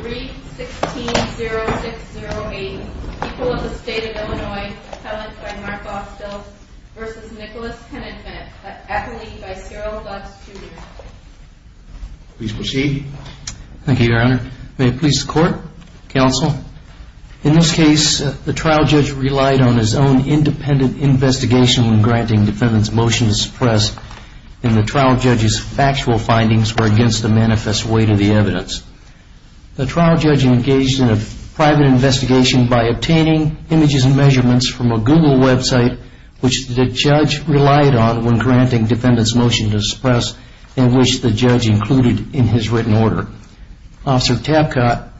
3. 16-0608 People of the State of Illinois Appellant by Mark Austell v. Nicholas Hennenfent Appellee by Cyril Buggs Jr. May it please the Court, Counsel. In this case, the trial judge relied on his own independent investigation when granting defendant's motion to suppress, and the trial judge's factual findings were against the manifest weight of the evidence. The trial judge engaged in a private investigation by obtaining images and measurements from a Google website, which the judge relied on when granting defendant's motion to suppress, and which the judge included in his written order. The trial judge's motion was to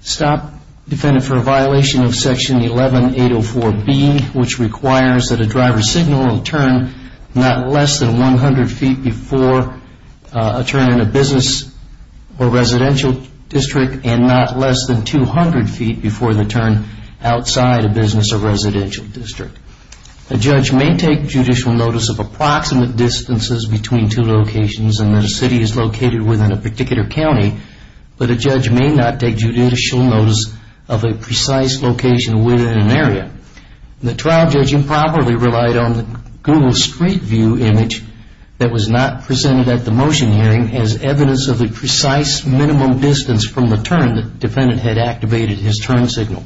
suspend the defendant for a violation of Section 11804B, which requires that a driver signal a turn not less than 100 feet before a turn in a business or residential district, and not less than 200 feet before the turn outside a business or residential district. A judge may take judicial notice of approximate distances between two locations and that a city is located within a particular county, but a judge may not take judicial notice of a precise location within an area. The trial judge improperly relied on the Google Street View image that was not presented at the motion hearing as evidence of a precise minimum distance from the turn that defendant had activated his turn signal.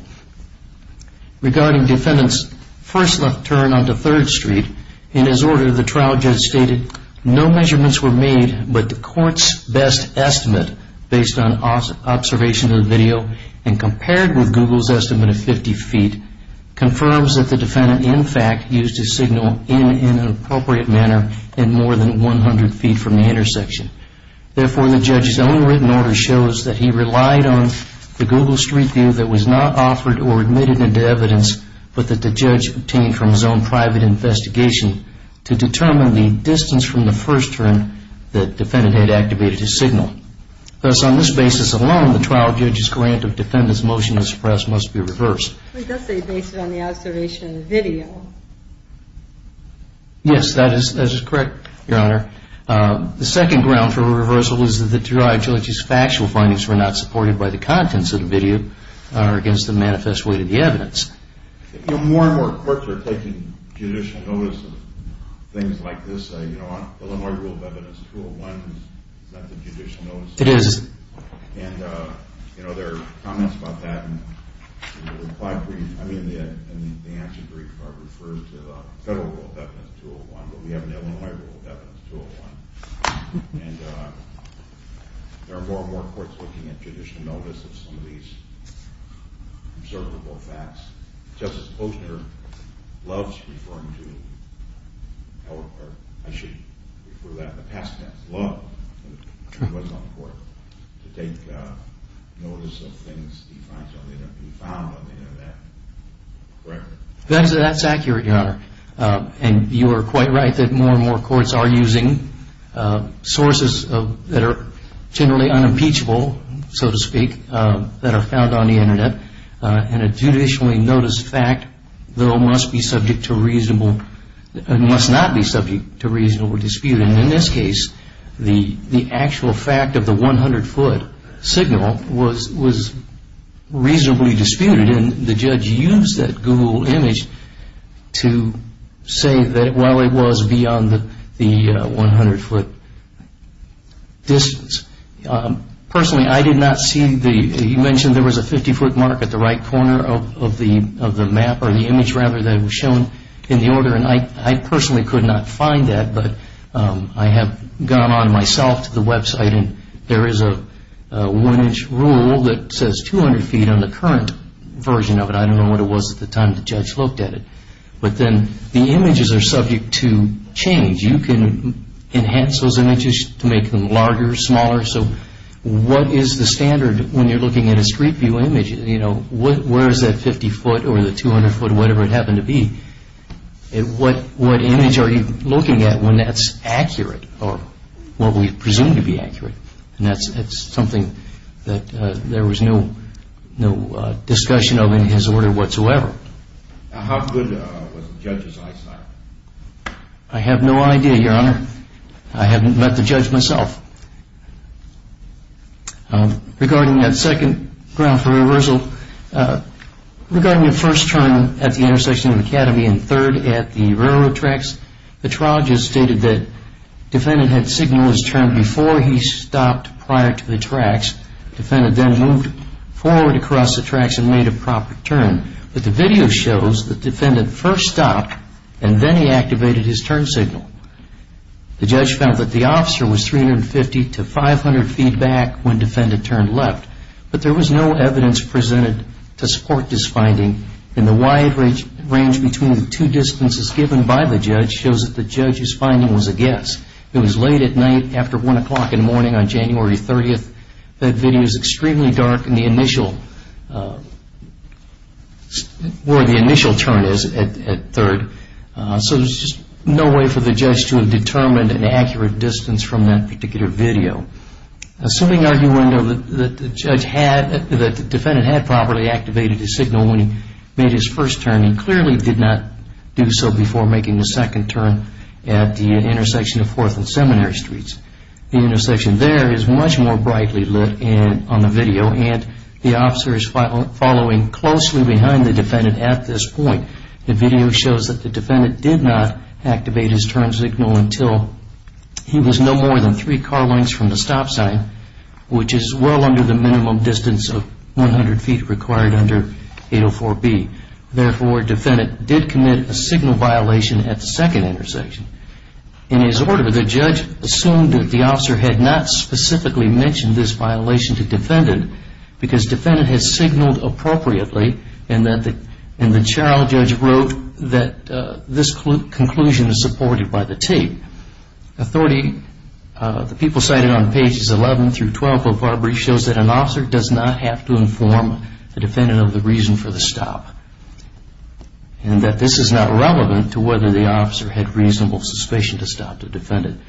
Regarding defendant's first left turn onto 3rd Street, in his order the trial judge stated, no measurements were made but the court's best estimate based on observation of the video and compared with Google's estimate of 50 feet, confirms that the defendant in fact used his signal in an appropriate manner in more than 100 feet from the intersection. Therefore, the judge's own written order shows that he relied on the Google Street View that was not offered or admitted into evidence, but that the judge obtained from his own private investigation to determine the distance from the first turn that defendant had activated his signal. Thus, on this basis alone, the trial judge's grant of defendant's motion to suppress must be reversed. He does say based on the observation of the video. Yes, that is correct, Your Honor. The second ground for reversal is that the trial judge's factual findings were not supported by the contents of the video or against the manifest weight of the evidence. You know, more and more courts are taking judicial notice of things like this. You know, Illinois Rule of Evidence 201 is not the judicial notice. It is. And, you know, there are comments about that. The reply brief, I mean, the answer brief refers to the federal Rule of Evidence 201, but we have an Illinois Rule of Evidence 201. And there are more and more courts looking at judicial notice of some of these observable facts. Justice Posner loves referring to, or I should refer to that in the past tense, to take notice of things he finds on the Internet, be found on the Internet. Correct? That's accurate, Your Honor. And you are quite right that more and more courts are using sources that are generally unimpeachable, so to speak, that are found on the Internet. And a judicially noticed fact, though, must be subject to reasonable and must not be subject to reasonable dispute. And in this case, the actual fact of the 100-foot signal was reasonably disputed, and the judge used that Google image to say that, well, it was beyond the 100-foot distance. Personally, I did not see the, you mentioned there was a 50-foot mark at the right corner of the map, or the image, rather, that was shown in the order, and I personally could not find that. But I have gone on myself to the website, and there is a one-inch rule that says 200 feet on the current version of it. I don't know what it was at the time the judge looked at it. But then the images are subject to change. You can enhance those images to make them larger, smaller. So what is the standard when you're looking at a Street View image? Where is that 50-foot or the 200-foot, whatever it happened to be? What image are you looking at when that's accurate or what we presume to be accurate? And that's something that there was no discussion of in his order whatsoever. How good was the judge's eyesight? I have no idea, Your Honor. I haven't met the judge myself. Regarding that second ground for reversal, regarding the first turn at the intersection of Academy and third at the railroad tracks, the trial just stated that the defendant had signaled his turn before he stopped prior to the tracks. The defendant then moved forward across the tracks and made a proper turn. But the video shows that the defendant first stopped, and then he activated his turn signal. The judge found that the officer was 350 to 500 feet back when the defendant turned left. But there was no evidence presented to support this finding, and the wide range between the two distances given by the judge shows that the judge's finding was a guess. It was late at night after 1 o'clock in the morning on January 30th. That video is extremely dark in the initial, where the initial turn is at third. So there's just no way for the judge to have determined an accurate distance from that particular video. Assuming, Your Honor, that the defendant had properly activated his signal when he made his first turn, he clearly did not do so before making the second turn at the intersection of Fourth and Seminary Streets. The intersection there is much more brightly lit on the video, and the officer is following closely behind the defendant at this point. The video shows that the defendant did not activate his turn signal until he was no more than three car lengths from the stop sign, which is well under the minimum distance of 100 feet required under 804B. Therefore, defendant did commit a signal violation at the second intersection. In his order, the judge assumed that the officer had not specifically mentioned this violation to defendant because defendant had signaled appropriately and the trial judge wrote that this conclusion is supported by the tape. The people cited on pages 11 through 12 of our brief shows that an officer does not have to inform the defendant of the reason for the stop and that this is not relevant to whether the officer had reasonable suspicion to stop the defendant.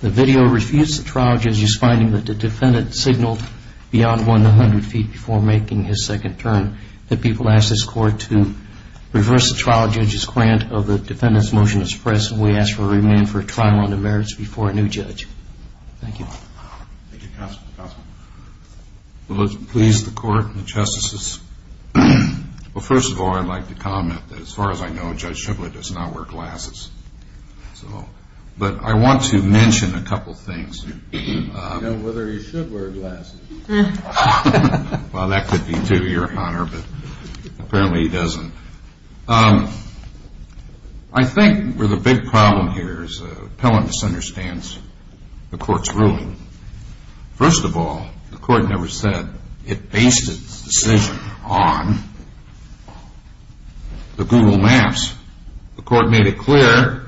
The video refutes the trial judge's finding that the defendant signaled beyond 100 feet before making his second turn. The people ask this Court to reverse the trial judge's grant of the defendant's motion to suppress, and we ask for a remand for trial under merits before a new judge. Thank you. Thank you, Counsel. Counsel. Will it please the Court and the Justices? Well, first of all, I'd like to comment that as far as I know, Judge Shiblett does not wear glasses. But I want to mention a couple of things. I don't know whether he should wear glasses. Well, that could be to your honor, but apparently he doesn't. I think where the big problem here is the appellant misunderstands the Court's ruling. First of all, the Court never said it based its decision on the Google Maps. The Court made it clear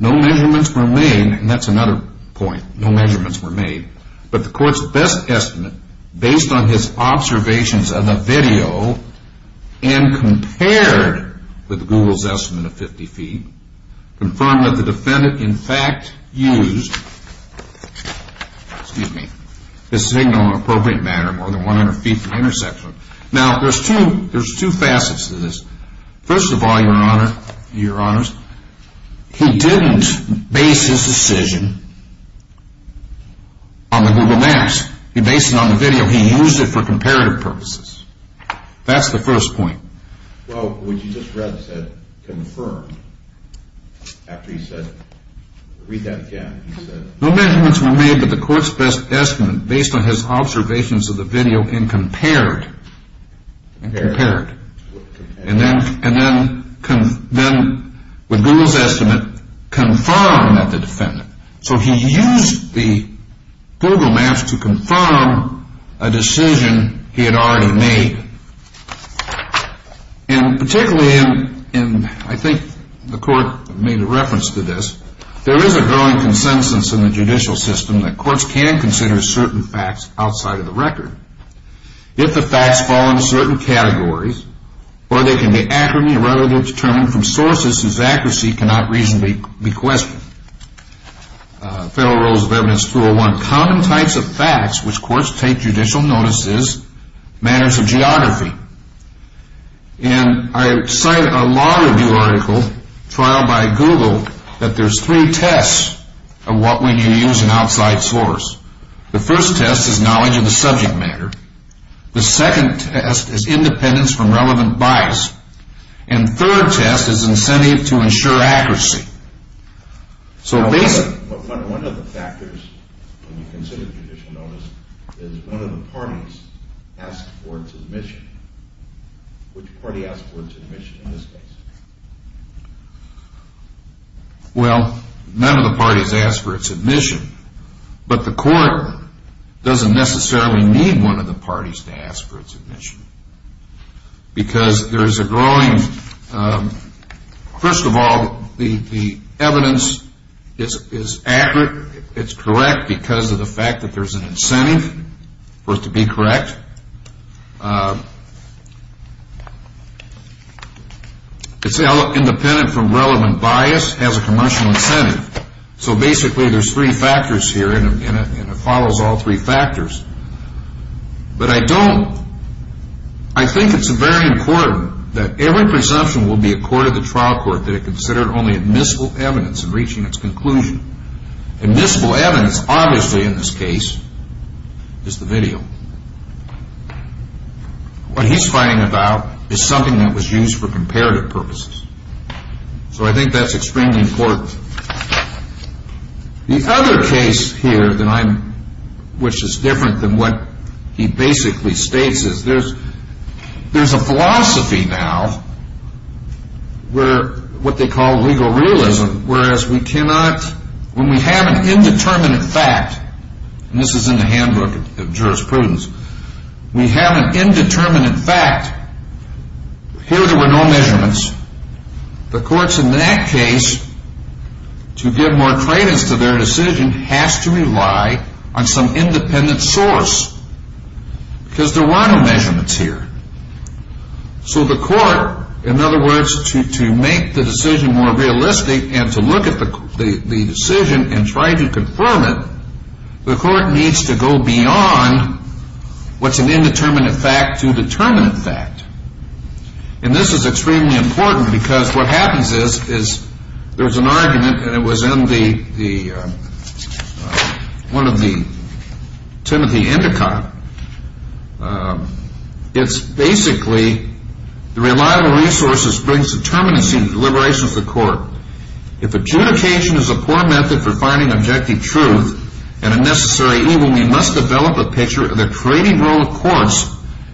no measurements were made, and that's another point, no measurements were made. But the Court's best estimate, based on his observations of the video and compared with Google's estimate of 50 feet, confirmed that the defendant in fact used the signal in an appropriate manner more than 100 feet from the intersection. Now, there's two facets to this. First of all, your honor, your honors, he didn't base his decision on the Google Maps. He based it on the video. He used it for comparative purposes. That's the first point. Well, what you just read said, confirmed. After he said, read that again. He said no measurements were made, but the Court's best estimate, based on his observations of the video, and compared. And compared. And then with Google's estimate, confirmed that the defendant. So he used the Google Maps to confirm a decision he had already made. And particularly, and I think the Court made a reference to this, there is a growing consensus in the judicial system that courts can consider certain facts outside of the record. If the facts fall into certain categories, or they can be accurately or relatively determined from sources whose accuracy cannot reasonably be questioned. Federal Rules of Evidence 201. Common types of facts which courts take judicial notice is matters of geography. And I cite a lot of your article, Trial by Google, that there's three tests of what when you use an outside source. The first test is knowledge of the subject matter. The second test is independence from relevant bias. And the third test is incentive to ensure accuracy. So basically. One of the factors when you consider judicial notice is one of the parties asked for its admission. Which party asked for its admission in this case? Well, none of the parties asked for its admission. But the court doesn't necessarily need one of the parties to ask for its admission. Because there's a growing, first of all, the evidence is accurate. It's correct because of the fact that there's an incentive for it to be correct. It's independent from relevant bias. It has a commercial incentive. So basically there's three factors here, and it follows all three factors. But I don't. I think it's very important that every presumption will be a court of the trial court that it considered only admissible evidence in reaching its conclusion. Admissible evidence, obviously in this case, is the video. What he's fighting about is something that was used for comparative purposes. So I think that's extremely important. The other case here, which is different than what he basically states, is there's a philosophy now where what they call legal realism, whereas we cannot, when we have an indeterminate fact, and this is in the handbook of jurisprudence, we have an indeterminate fact. Here there were no measurements. The courts in that case, to give more credence to their decision, has to rely on some independent source. Because there were no measurements here. So the court, in other words, to make the decision more realistic and to look at the decision and try to confirm it, the court needs to go beyond what's an indeterminate fact to a determinate fact. And this is extremely important because what happens is there's an argument, and it was in one of the Timothy Endicott. It's basically the reliable resources brings determinacy and deliberation to the court. If adjudication is a poor method for finding objective truth and a necessary evil, we must develop a picture of the trading role of courts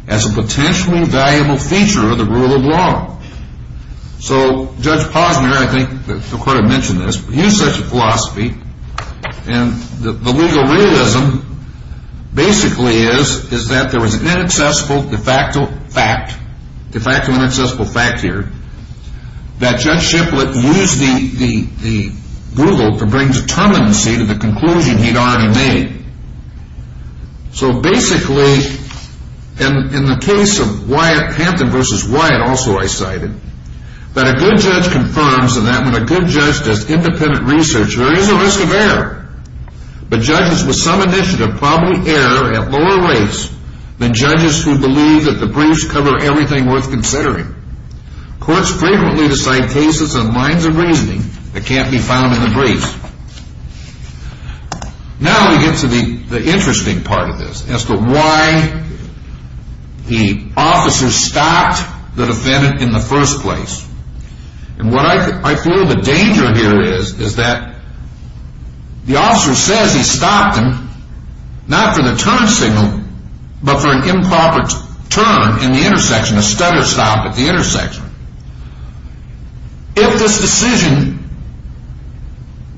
as a potentially valuable feature of the rule of law. So Judge Posner, I think the court had mentioned this, used such a philosophy. And the legal realism basically is that there was an inaccessible de facto fact. De facto inaccessible fact here. That Judge Shiplet used the rule to bring determinacy to the conclusion he'd already made. So basically, in the case of Hampton v. Wyatt also I cited, that a good judge confirms that when a good judge does independent research, there is a risk of error. But judges with some initiative probably err at lower rates than judges who believe that the briefs cover everything worth considering. Courts frequently decide cases on lines of reasoning that can't be found in the briefs. Now we get to the interesting part of this as to why the officer stopped the defendant in the first place. And what I feel the danger here is, is that the officer says he stopped him, not for the turn signal, but for an improper turn in the intersection, a stutter stop at the intersection. If this decision,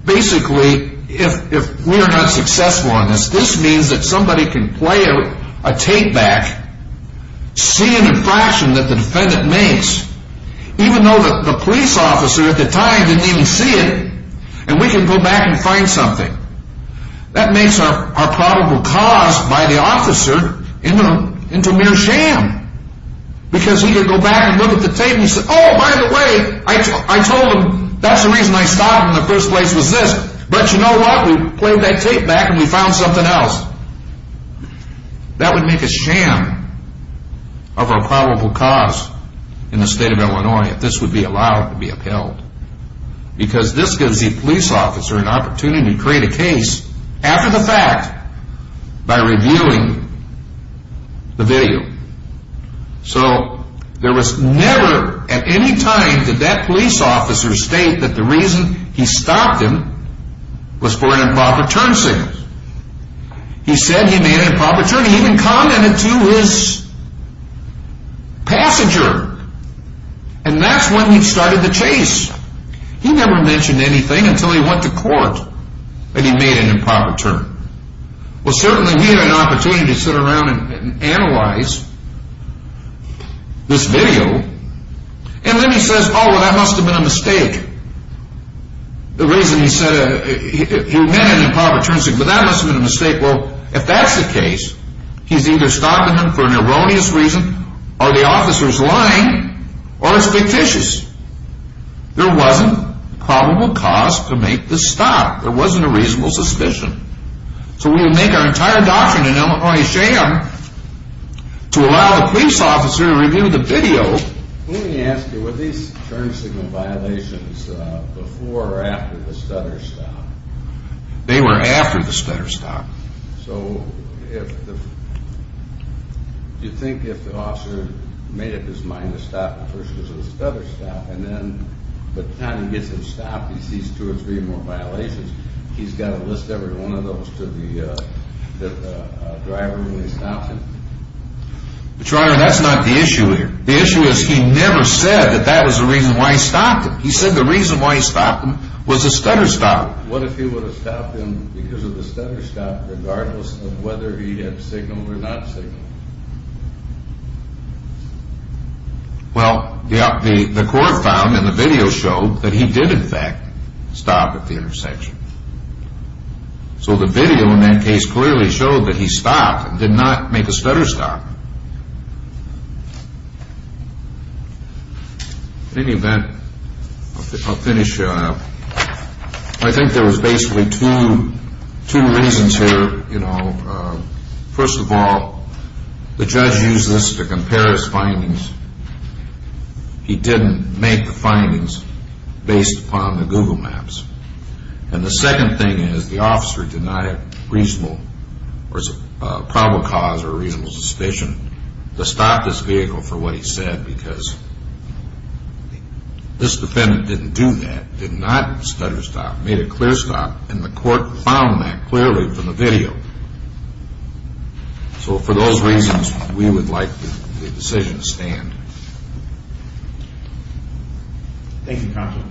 basically, if we are not successful in this, this means that somebody can play a take back, see an infraction that the defendant makes, even though the police officer at the time didn't even see it, and we can go back and find something. That makes our probable cause by the officer into mere sham. Because he could go back and look at the tape and say, oh, by the way, I told him that's the reason I stopped him in the first place was this. But you know what, we played that tape back and we found something else. That would make a sham of our probable cause in the state of Illinois if this would be allowed to be upheld. Because this gives the police officer an opportunity to create a case after the fact by reviewing the video. So there was never at any time did that police officer state that the reason he stopped him was for an improper turn signal. He said he made an improper turn. He even commented to his passenger. And that's when he started the chase. He never mentioned anything until he went to court that he made an improper turn. Well, certainly we had an opportunity to sit around and analyze this video. And then he says, oh, well, that must have been a mistake. The reason he said he made an improper turn signal, that must have been a mistake. Well, if that's the case, he's either stopping him for an erroneous reason, or the officer's lying, or it's fictitious. There wasn't a probable cause to make this stop. There wasn't a reasonable suspicion. So we would make our entire doctrine in Illinois a sham to allow the police officer to review the video. Let me ask you, were these turn signal violations before or after the stutter stop? They were after the stutter stop. So do you think if the officer made up his mind to stop, the first was a stutter stop, and then by the time he gets him stopped, he sees two or three more violations, he's got to list every one of those to the driver when he stops him? But, Your Honor, that's not the issue here. The issue is he never said that that was the reason why he stopped him. He said the reason why he stopped him was a stutter stop. What if he would have stopped him because of the stutter stop, regardless of whether he had signaled or not signaled? Well, the court found in the video showed that he did in fact stop at the intersection. So the video in that case clearly showed that he stopped and did not make a stutter stop. In any event, I'll finish. I think there was basically two reasons here. First of all, the judge used this to compare his findings. He didn't make the findings based upon the Google Maps. And the second thing is the officer did not have reasonable or probable cause or reasonable suspicion to stop this vehicle for what he said because this defendant didn't do that, did not stutter stop, made a clear stop, and the court found that clearly from the video. So for those reasons, we would like the decision to stand. Thank you, counsel.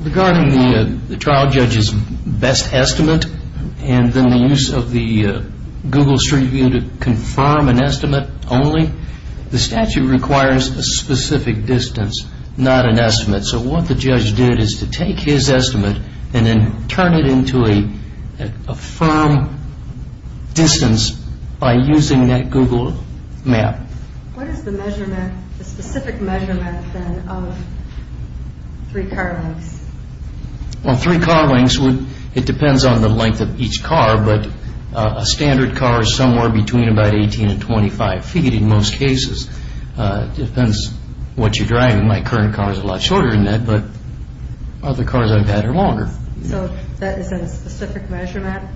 Regarding the trial judge's best estimate and then the use of the Google Street View to confirm an estimate only, the statute requires a specific distance, not an estimate. So what the judge did is to take his estimate and then turn it into a firm distance by using that Google Map. What is the measurement, the specific measurement then of three car lengths? Well, three car lengths, it depends on the length of each car, but a standard car is somewhere between about 18 and 25 feet in most cases. It depends what you're driving. My current car is a lot shorter than that, but other cars I've had are longer. So that is a specific measurement.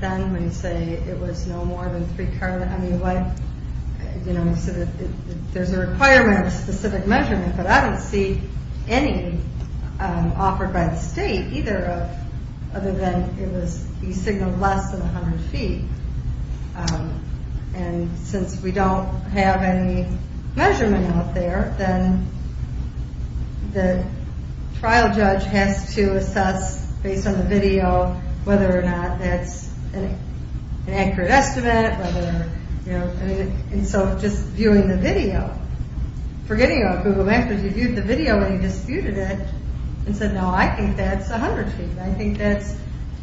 Then when you say it was no more than three car lengths, I mean, there's a requirement of a specific measurement, but I don't see any offered by the state other than it was signaled less than 100 feet. And since we don't have any measurement out there, then the trial judge has to assess based on the video whether or not that's an accurate estimate. And so just viewing the video, forgetting about Google Maps, but you viewed the video and you disputed it and said, No, I think that's 100 feet. I think that's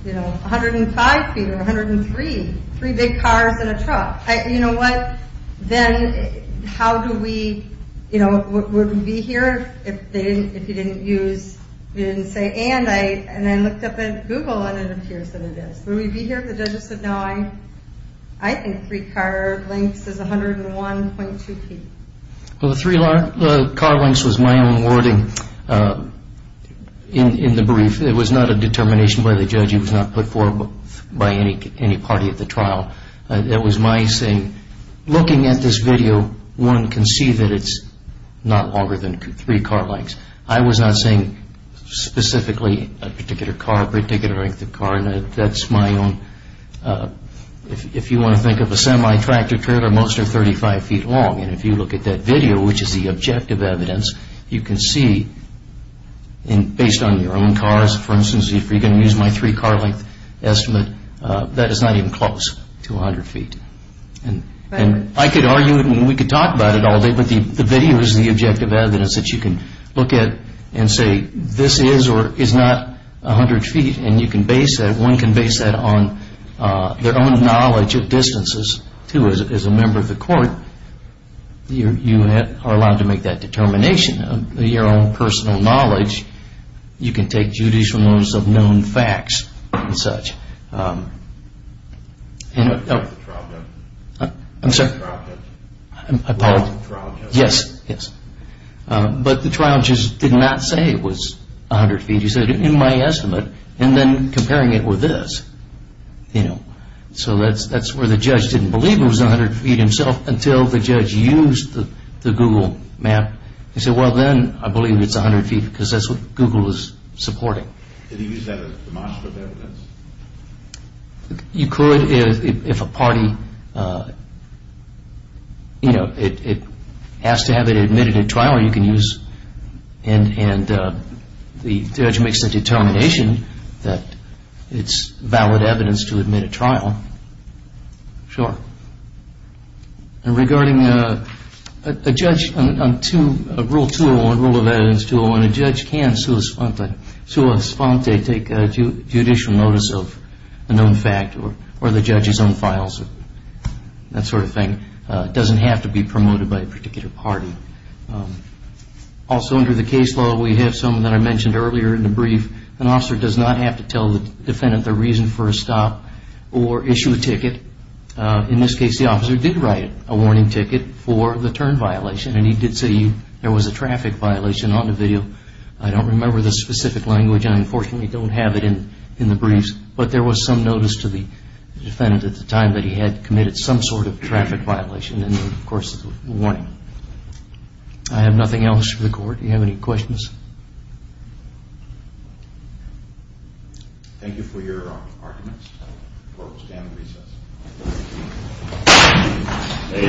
105 feet or 103. Three big cars in a truck. You know what, then how do we, you know, would we be here if you didn't use, you didn't say, and I looked up at Google and it appears that it is. Would we be here? The judge said, No, I think three car lengths is 101.2 feet. Well, the three car lengths was my own wording in the brief. It was not a determination by the judge. It was not put forward by any party at the trial. It was my saying, looking at this video, one can see that it's not longer than three car lengths. I was not saying specifically a particular car, a particular length of car. That's my own, if you want to think of a semi-tractor trailer, most are 35 feet long. And if you look at that video, which is the objective evidence, you can see, and based on your own cars, for instance, if you're going to use my three car length estimate, that is not even close to 100 feet. And I could argue and we could talk about it all day, but the video is the objective evidence that you can look at and say, this is or is not 100 feet, and you can base that, one can base that on their own knowledge of distances, too, as a member of the court. You are allowed to make that determination of your own personal knowledge. You can take judicial notice of known facts and such. But the trial judge did not say it was 100 feet. He said, in my estimate, and then comparing it with this. So that's where the judge didn't believe it was 100 feet himself until the judge used the Google map. He said, well, then I believe it's 100 feet because that's what Google is supporting. Did he use that as demonstrative evidence? You could if a party, you know, it has to have it admitted in trial, you can use and the judge makes the determination that it's valid evidence to admit a trial. Sure. And regarding a judge on Rule 201, Rule of Evidence 201, a judge can sua sponte take judicial notice of a known fact or the judge's own files or that sort of thing. It doesn't have to be promoted by a particular party. Also under the case law, we have some that I mentioned earlier in the brief. An officer does not have to tell the defendant the reason for a stop or issue a ticket. In this case, the officer did write a warning ticket for the turn violation and he did say there was a traffic violation on the video. I don't remember the specific language. I unfortunately don't have it in the briefs. But there was some notice to the defendant at the time that he had committed some sort of traffic violation in the course of the warning. I have nothing else for the court. Do you have any questions? Thank you for your arguments. The court will stand at recess.